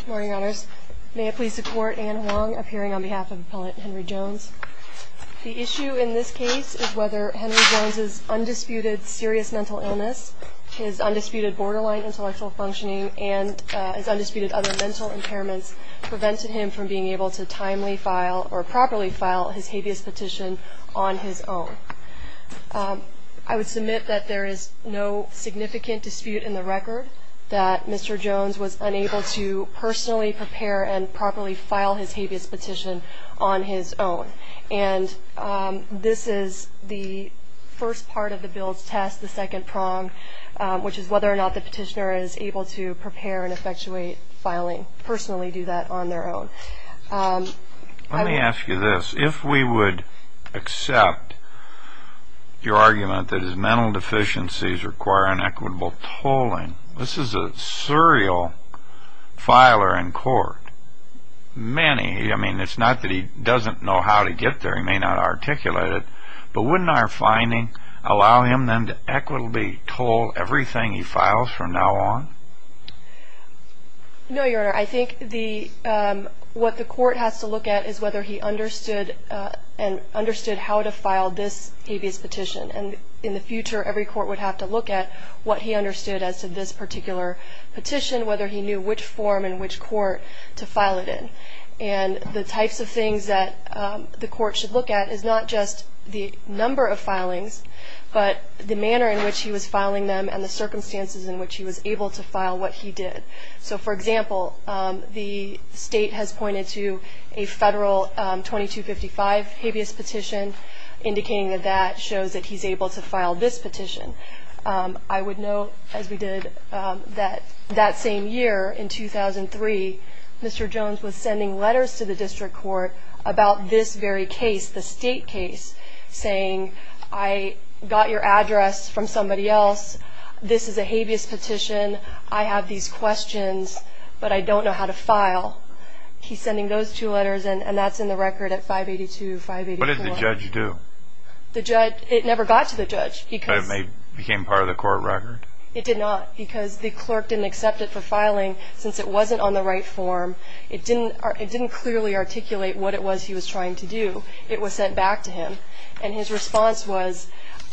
Good morning, Your Honors. May it please the Court, Anne Huang appearing on behalf of Appellate Henry Jones. The issue in this case is whether Henry Jones's undisputed serious mental illness, his undisputed borderline intellectual functioning, and his undisputed other mental impairments prevented him from being able to timely file, or properly file, his habeas petition on his own. I would submit that there is no significant dispute in the record that Mr. Jones was unable to personally prepare and properly file his habeas petition on his own. And this is the first part of the Bill's test, the second prong, which is whether or not the petitioner is able to prepare and effectuate filing, personally do that on their own. Let me ask you this. If we would accept your argument that his mental deficiencies require an equitable tolling, this is a serial filer in court, many. I mean, it's not that he doesn't know how to get there, he may not articulate it, but wouldn't our finding allow him then to equitably toll everything he files from now on? No, Your Honor. I think what the court has to look at is whether he understood how to file this habeas petition. And in the future, every court would have to look at what he understood as to this particular petition, whether he knew which form and which court to file it in. And the types of things that the court should look at is not just the number of filings, but the manner in which he was filing them and the circumstances in which he was able to file what he did. So, for example, the state has pointed to a federal 2255 habeas petition, indicating that that shows that he's able to file this petition. I would note, as we did, that that same year, in 2003, Mr. Jones was sending letters to the district court about this very case, the state case, saying, I got your address from somebody else. This is a habeas petition. I have these questions, but I don't know how to file. He's sending those two letters, and that's in the record at 582-584-1. What did the judge do? It never got to the judge. But it became part of the court record? It did not, because the clerk didn't accept it for filing, since it wasn't on the right form. It didn't clearly articulate what it was he was trying to do. It was sent back to him. And his response was,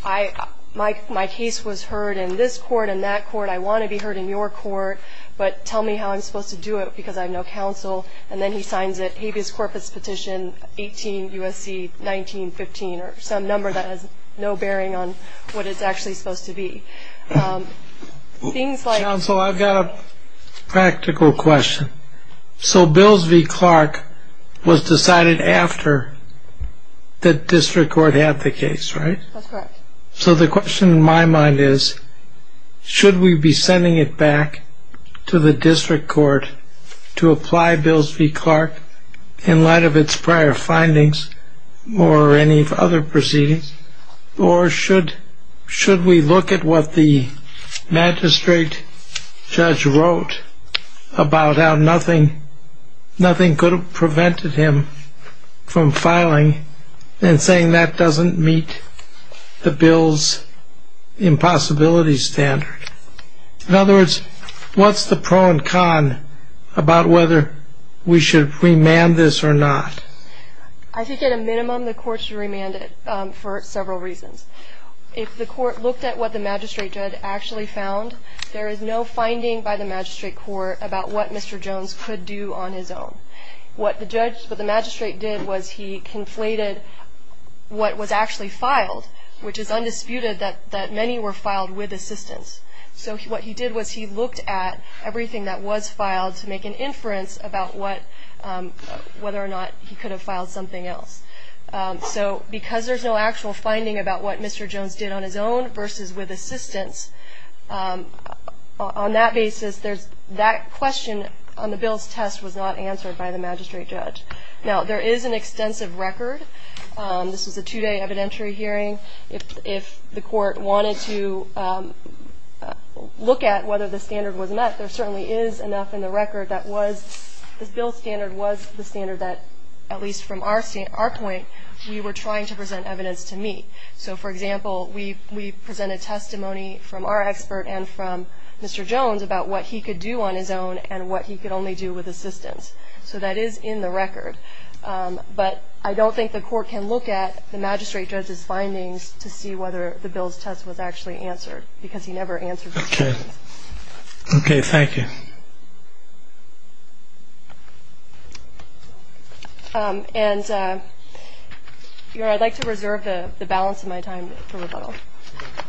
my case was heard in this court and that court. I want to be heard in your court, but tell me how I'm supposed to do it, because I have no counsel. And then he signs it, habeas corpus petition 18 U.S.C. 1915, or some number that has no bearing on what it's actually supposed to be. Counsel, I've got a practical question. So Bills v. Clark was decided after the district court had the case, right? That's correct. So the question in my mind is, should we be sending it back to the district court to apply Bills v. Clark in light of its prior findings or any other proceedings, or should we look at what the magistrate judge wrote about how nothing could have prevented him from filing and saying that doesn't meet the Bill's impossibility standard? In other words, what's the pro and con about whether we should remand this or not? I think at a minimum the court should remand it for several reasons. If the court looked at what the magistrate judge actually found, there is no finding by the magistrate court about what Mr. Jones could do on his own. What the magistrate did was he conflated what was actually filed, which is undisputed that many were filed with assistance. So what he did was he looked at everything that was filed to make an inference about whether or not he could have filed something else. So because there's no actual finding about what Mr. Jones did on his own versus with assistance, on that basis that question on the Bill's test was not answered by the magistrate judge. Now, there is an extensive record. This was a two-day evidentiary hearing. If the court wanted to look at whether the standard was met, there certainly is enough in the record that was the Bill standard was the standard that at least from our point we were trying to present evidence to meet. So, for example, we presented testimony from our expert and from Mr. Jones about what he could do on his own and what he could only do with assistance. So that is in the record. But I don't think the court can look at the magistrate judge's findings to see whether the Bill's test was actually answered because he never answered. Okay. Okay. Thank you. And I'd like to reserve the balance of my time for rebuttal. Thank you.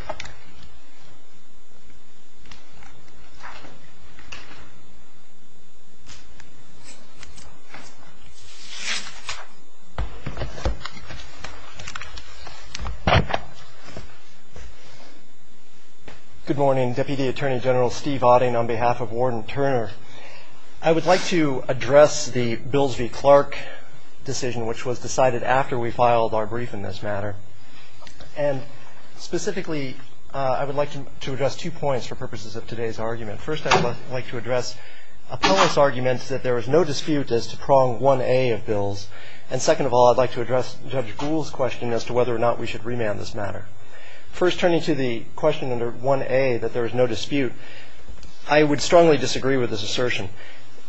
Good morning. Deputy Attorney General Steve Otting on behalf of Warden Turner. I would like to address the Bills v. Clark decision, which was decided after we filed our brief in this matter. And specifically, I would like to address two points for purposes of today's argument. First, I would like to address appellate's arguments that there is no dispute as to prong 1A of Bills. And second of all, I'd like to address Judge Gould's question as to whether or not we should remand this matter. First, turning to the question under 1A, that there is no dispute, I would strongly disagree with this assertion.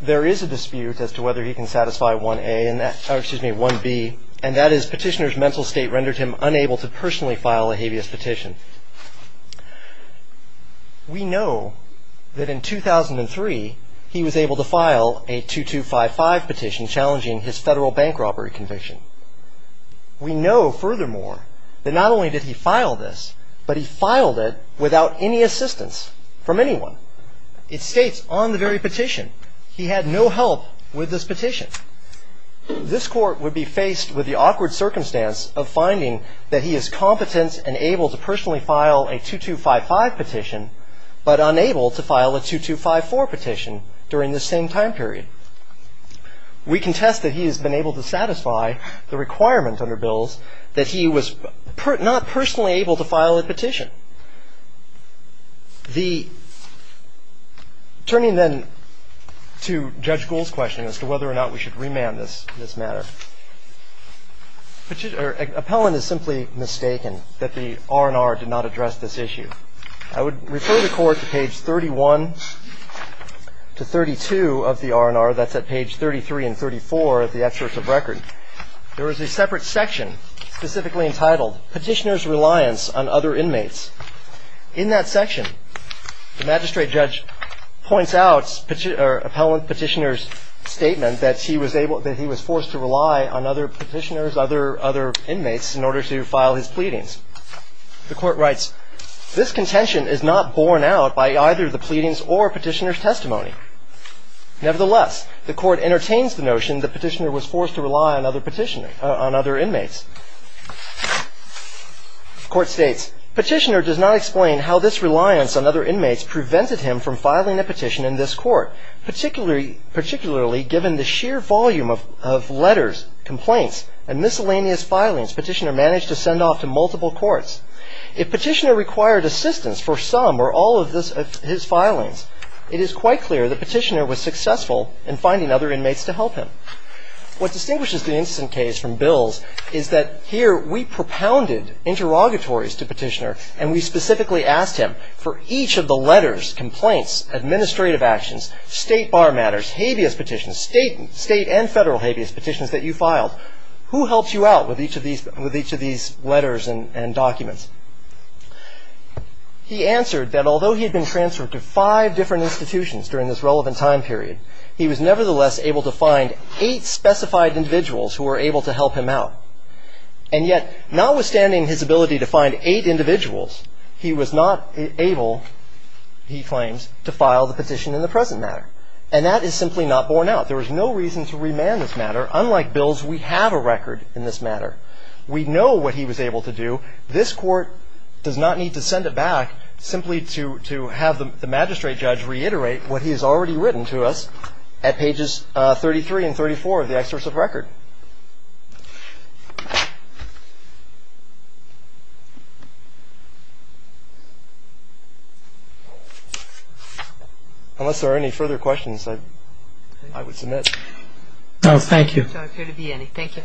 There is a dispute as to whether he can satisfy 1A and that – or, excuse me, 1B, and that is petitioner's mental state rendered him unable to personally file a habeas petition. We know that in 2003, he was able to file a 2255 petition challenging his federal bank robbery conviction. We know, furthermore, that not only did he file this, but he filed it without any assistance from anyone. It states on the very petition, he had no help with this petition. This Court would be faced with the awkward circumstance of finding that he is competent and able to personally file a 2255 petition, but unable to file a 2254 petition during this same time period. We contest that he has been able to satisfy the requirement under Bills that he was not personally able to file a petition. Turning then to Judge Gould's question as to whether or not we should remand this matter, appellant is simply mistaken that the R&R did not address this issue. I would refer the Court to page 31 to 32 of the R&R. That's at page 33 and 34 of the excerpt of record. There is a separate section specifically entitled Petitioner's Reliance on Other Inmates. In that section, the magistrate judge points out appellant Petitioner's statement that he was forced to rely on other petitioners, other inmates, in order to file his pleadings. The Court writes, this contention is not borne out by either the pleadings or Petitioner's testimony. Nevertheless, the Court entertains the notion that Petitioner was forced to rely on other inmates. The Court states, Petitioner does not explain how this reliance on other inmates prevented him from filing a petition in this court, particularly given the sheer volume of letters, complaints, and miscellaneous filings Petitioner managed to send off to multiple courts. If Petitioner required assistance for some or all of his filings, it is quite clear that Petitioner was successful in finding other inmates to help him. What distinguishes the incident case from Bills is that here we propounded interrogatories to Petitioner and we specifically asked him for each of the letters, complaints, administrative actions, state bar matters, habeas petitions, state and federal habeas petitions that you filed. Who helps you out with each of these letters and documents? He answered that although he had been transferred to five different institutions during this relevant time period, he was nevertheless able to find eight specified individuals who were able to help him out. And yet, notwithstanding his ability to find eight individuals, he was not able, he claims, to file the petition in the present matter. And that is simply not borne out. There is no reason to remand this matter. Unlike Bills, we have a record in this matter. We know what he was able to do. This Court does not need to send it back simply to have the magistrate judge reiterate what he has already written to us at pages 33 and 34 of the excursive record. Unless there are any further questions, I would submit. Thank you. There appear to be any. Thank you.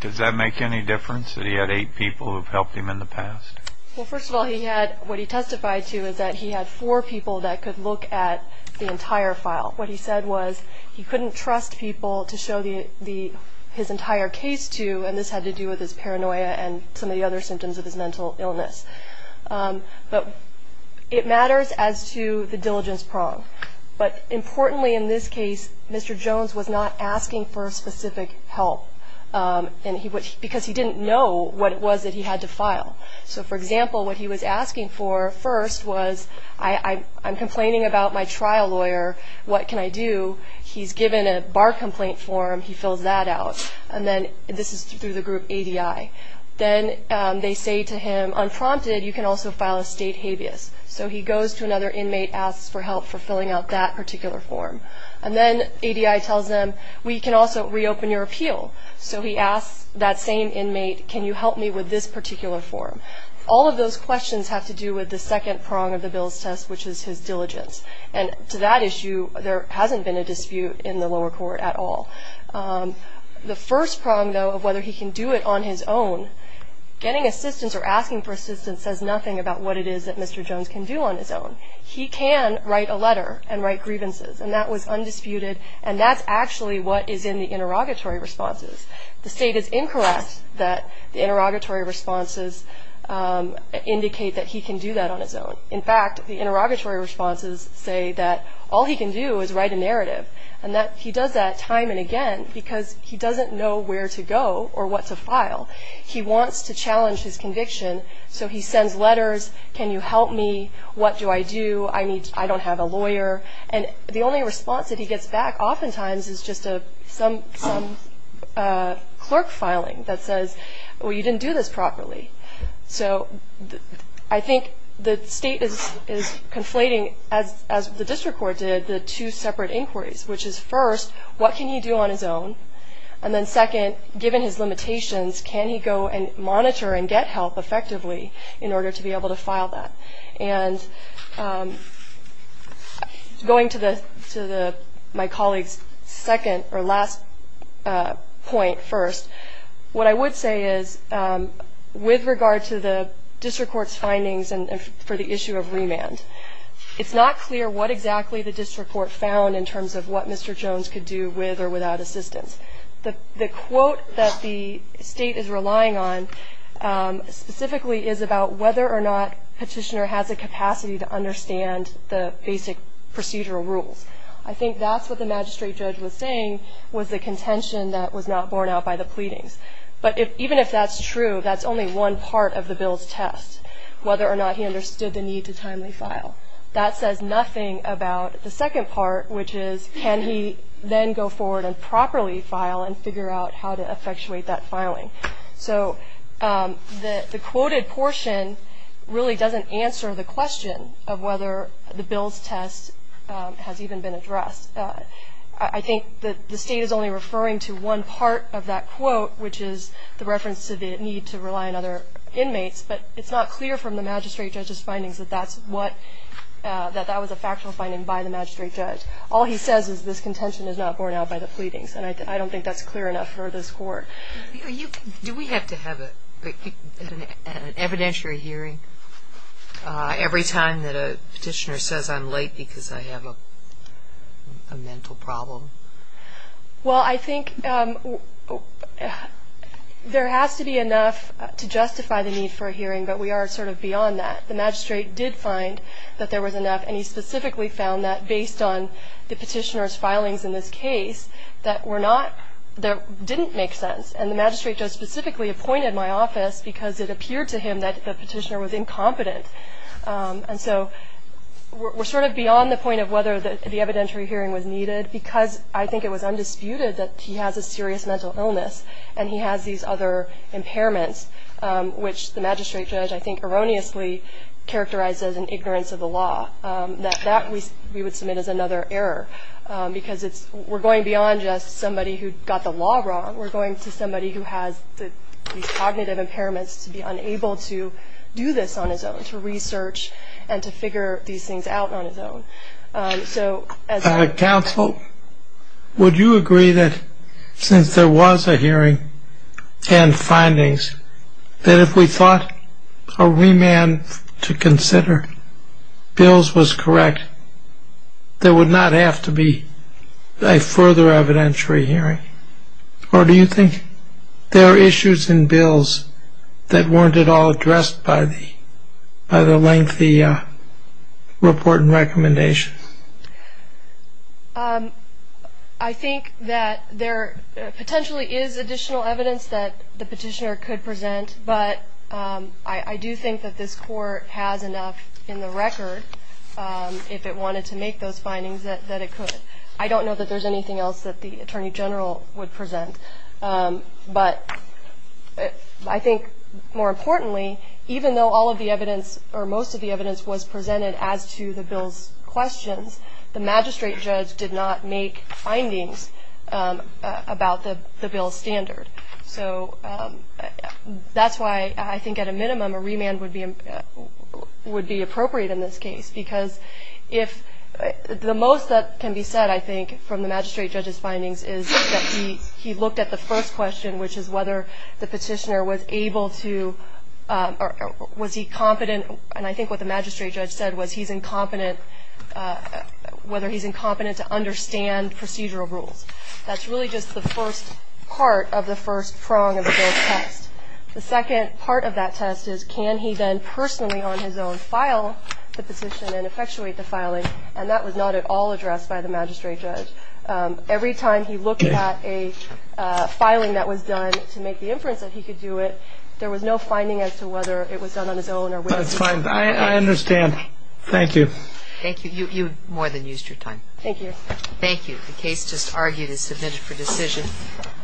Does that make any difference that he had eight people who have helped him in the past? Well, first of all, what he testified to is that he had four people that could look at the entire file. What he said was he couldn't trust people to show his entire case to, and this had to do with his paranoia and some of the other symptoms of his mental illness. But it matters as to the diligence prong. But importantly in this case, Mr. Jones was not asking for specific help, because he didn't know what it was that he had to file. So, for example, what he was asking for first was, I'm complaining about my trial lawyer. What can I do? He's given a bar complaint form. He fills that out. And then this is through the group ADI. Then they say to him, unprompted, you can also file a state habeas. So he goes to another inmate, asks for help for filling out that particular form. And then ADI tells him, we can also reopen your appeal. So he asks that same inmate, can you help me with this particular form? All of those questions have to do with the second prong of the Bill's test, which is his diligence. And to that issue, there hasn't been a dispute in the lower court at all. The first prong, though, of whether he can do it on his own, getting assistance or asking for assistance says nothing about what it is that Mr. Jones can do on his own. He can write a letter and write grievances. And that was undisputed. And that's actually what is in the interrogatory responses. The state is incorrect that the interrogatory responses indicate that he can do that on his own. In fact, the interrogatory responses say that all he can do is write a narrative. And he does that time and again because he doesn't know where to go or what to file. He wants to challenge his conviction, so he sends letters, can you help me, what do I do, I don't have a lawyer. And the only response that he gets back oftentimes is just some clerk filing that says, well, you didn't do this properly. So I think the state is conflating, as the district court did, the two separate inquiries, which is first, what can he do on his own, and then second, given his limitations, can he go and monitor and get help effectively in order to be able to file that. And going to my colleague's second or last point first, what I would say is with regard to the district court's findings for the issue of remand, it's not clear what exactly the district court found in terms of what Mr. Jones could do with or without assistance. The quote that the state is relying on specifically is about whether or not Petitioner has a capacity to understand the basic procedural rules. I think that's what the magistrate judge was saying was the contention that was not borne out by the pleadings. But even if that's true, that's only one part of the bill's test, whether or not he understood the need to timely file. That says nothing about the second part, which is can he then go forward and properly file and figure out how to effectuate that filing. So the quoted portion really doesn't answer the question of whether the bill's test has even been addressed. I think the state is only referring to one part of that quote, which is the reference to the need to rely on other inmates, but it's not clear from the magistrate judge's findings that that was a factual finding by the magistrate judge. All he says is this contention is not borne out by the pleadings, and I don't think that's clear enough for this Court. Do we have to have an evidentiary hearing every time that a Petitioner says, I'm late because I have a mental problem? Well, I think there has to be enough to justify the need for a hearing, but we are sort of beyond that. The magistrate did find that there was enough, and he specifically found that based on the Petitioner's filings in this case that didn't make sense. And the magistrate judge specifically appointed my office because it appeared to him that the Petitioner was incompetent. And so we're sort of beyond the point of whether the evidentiary hearing was needed because I think it was undisputed that he has a serious mental illness and he has these other impairments, which the magistrate judge I think erroneously characterized as an ignorance of the law. That we would submit as another error because we're going beyond just somebody who got the law wrong. We're going to somebody who has these cognitive impairments to be unable to do this on his own, to research and to figure these things out on his own. Counsel, would you agree that since there was a hearing and findings, that if we thought a remand to consider bills was correct, there would not have to be a further evidentiary hearing? Or do you think there are issues in bills that weren't at all addressed by the lengthy report and recommendations? I think that there potentially is additional evidence that the Petitioner could present, but I do think that this Court has enough in the record, if it wanted to make those findings, that it could. I don't know that there's anything else that the Attorney General would present. But I think more importantly, even though all of the evidence, or most of the evidence was presented as to the bill's questions, the magistrate judge did not make findings about the bill's standard. So that's why I think at a minimum a remand would be appropriate in this case because the most that can be said, I think, from the magistrate judge's findings is that he looked at the first question, which is whether the Petitioner was able to, or was he competent, and I think what the magistrate judge said was he's incompetent, whether he's incompetent to understand procedural rules. That's really just the first part of the first prong of the bill's test. The second part of that test is can he then personally on his own file the petition and effectuate the filing, and that was not at all addressed by the magistrate judge. Every time he looked at a filing that was done to make the inference that he could do it, there was no finding as to whether it was done on his own or whether he could. That's fine. I understand. Thank you. Thank you. You more than used your time. Thank you. Thank you. The case just argued is submitted for decision.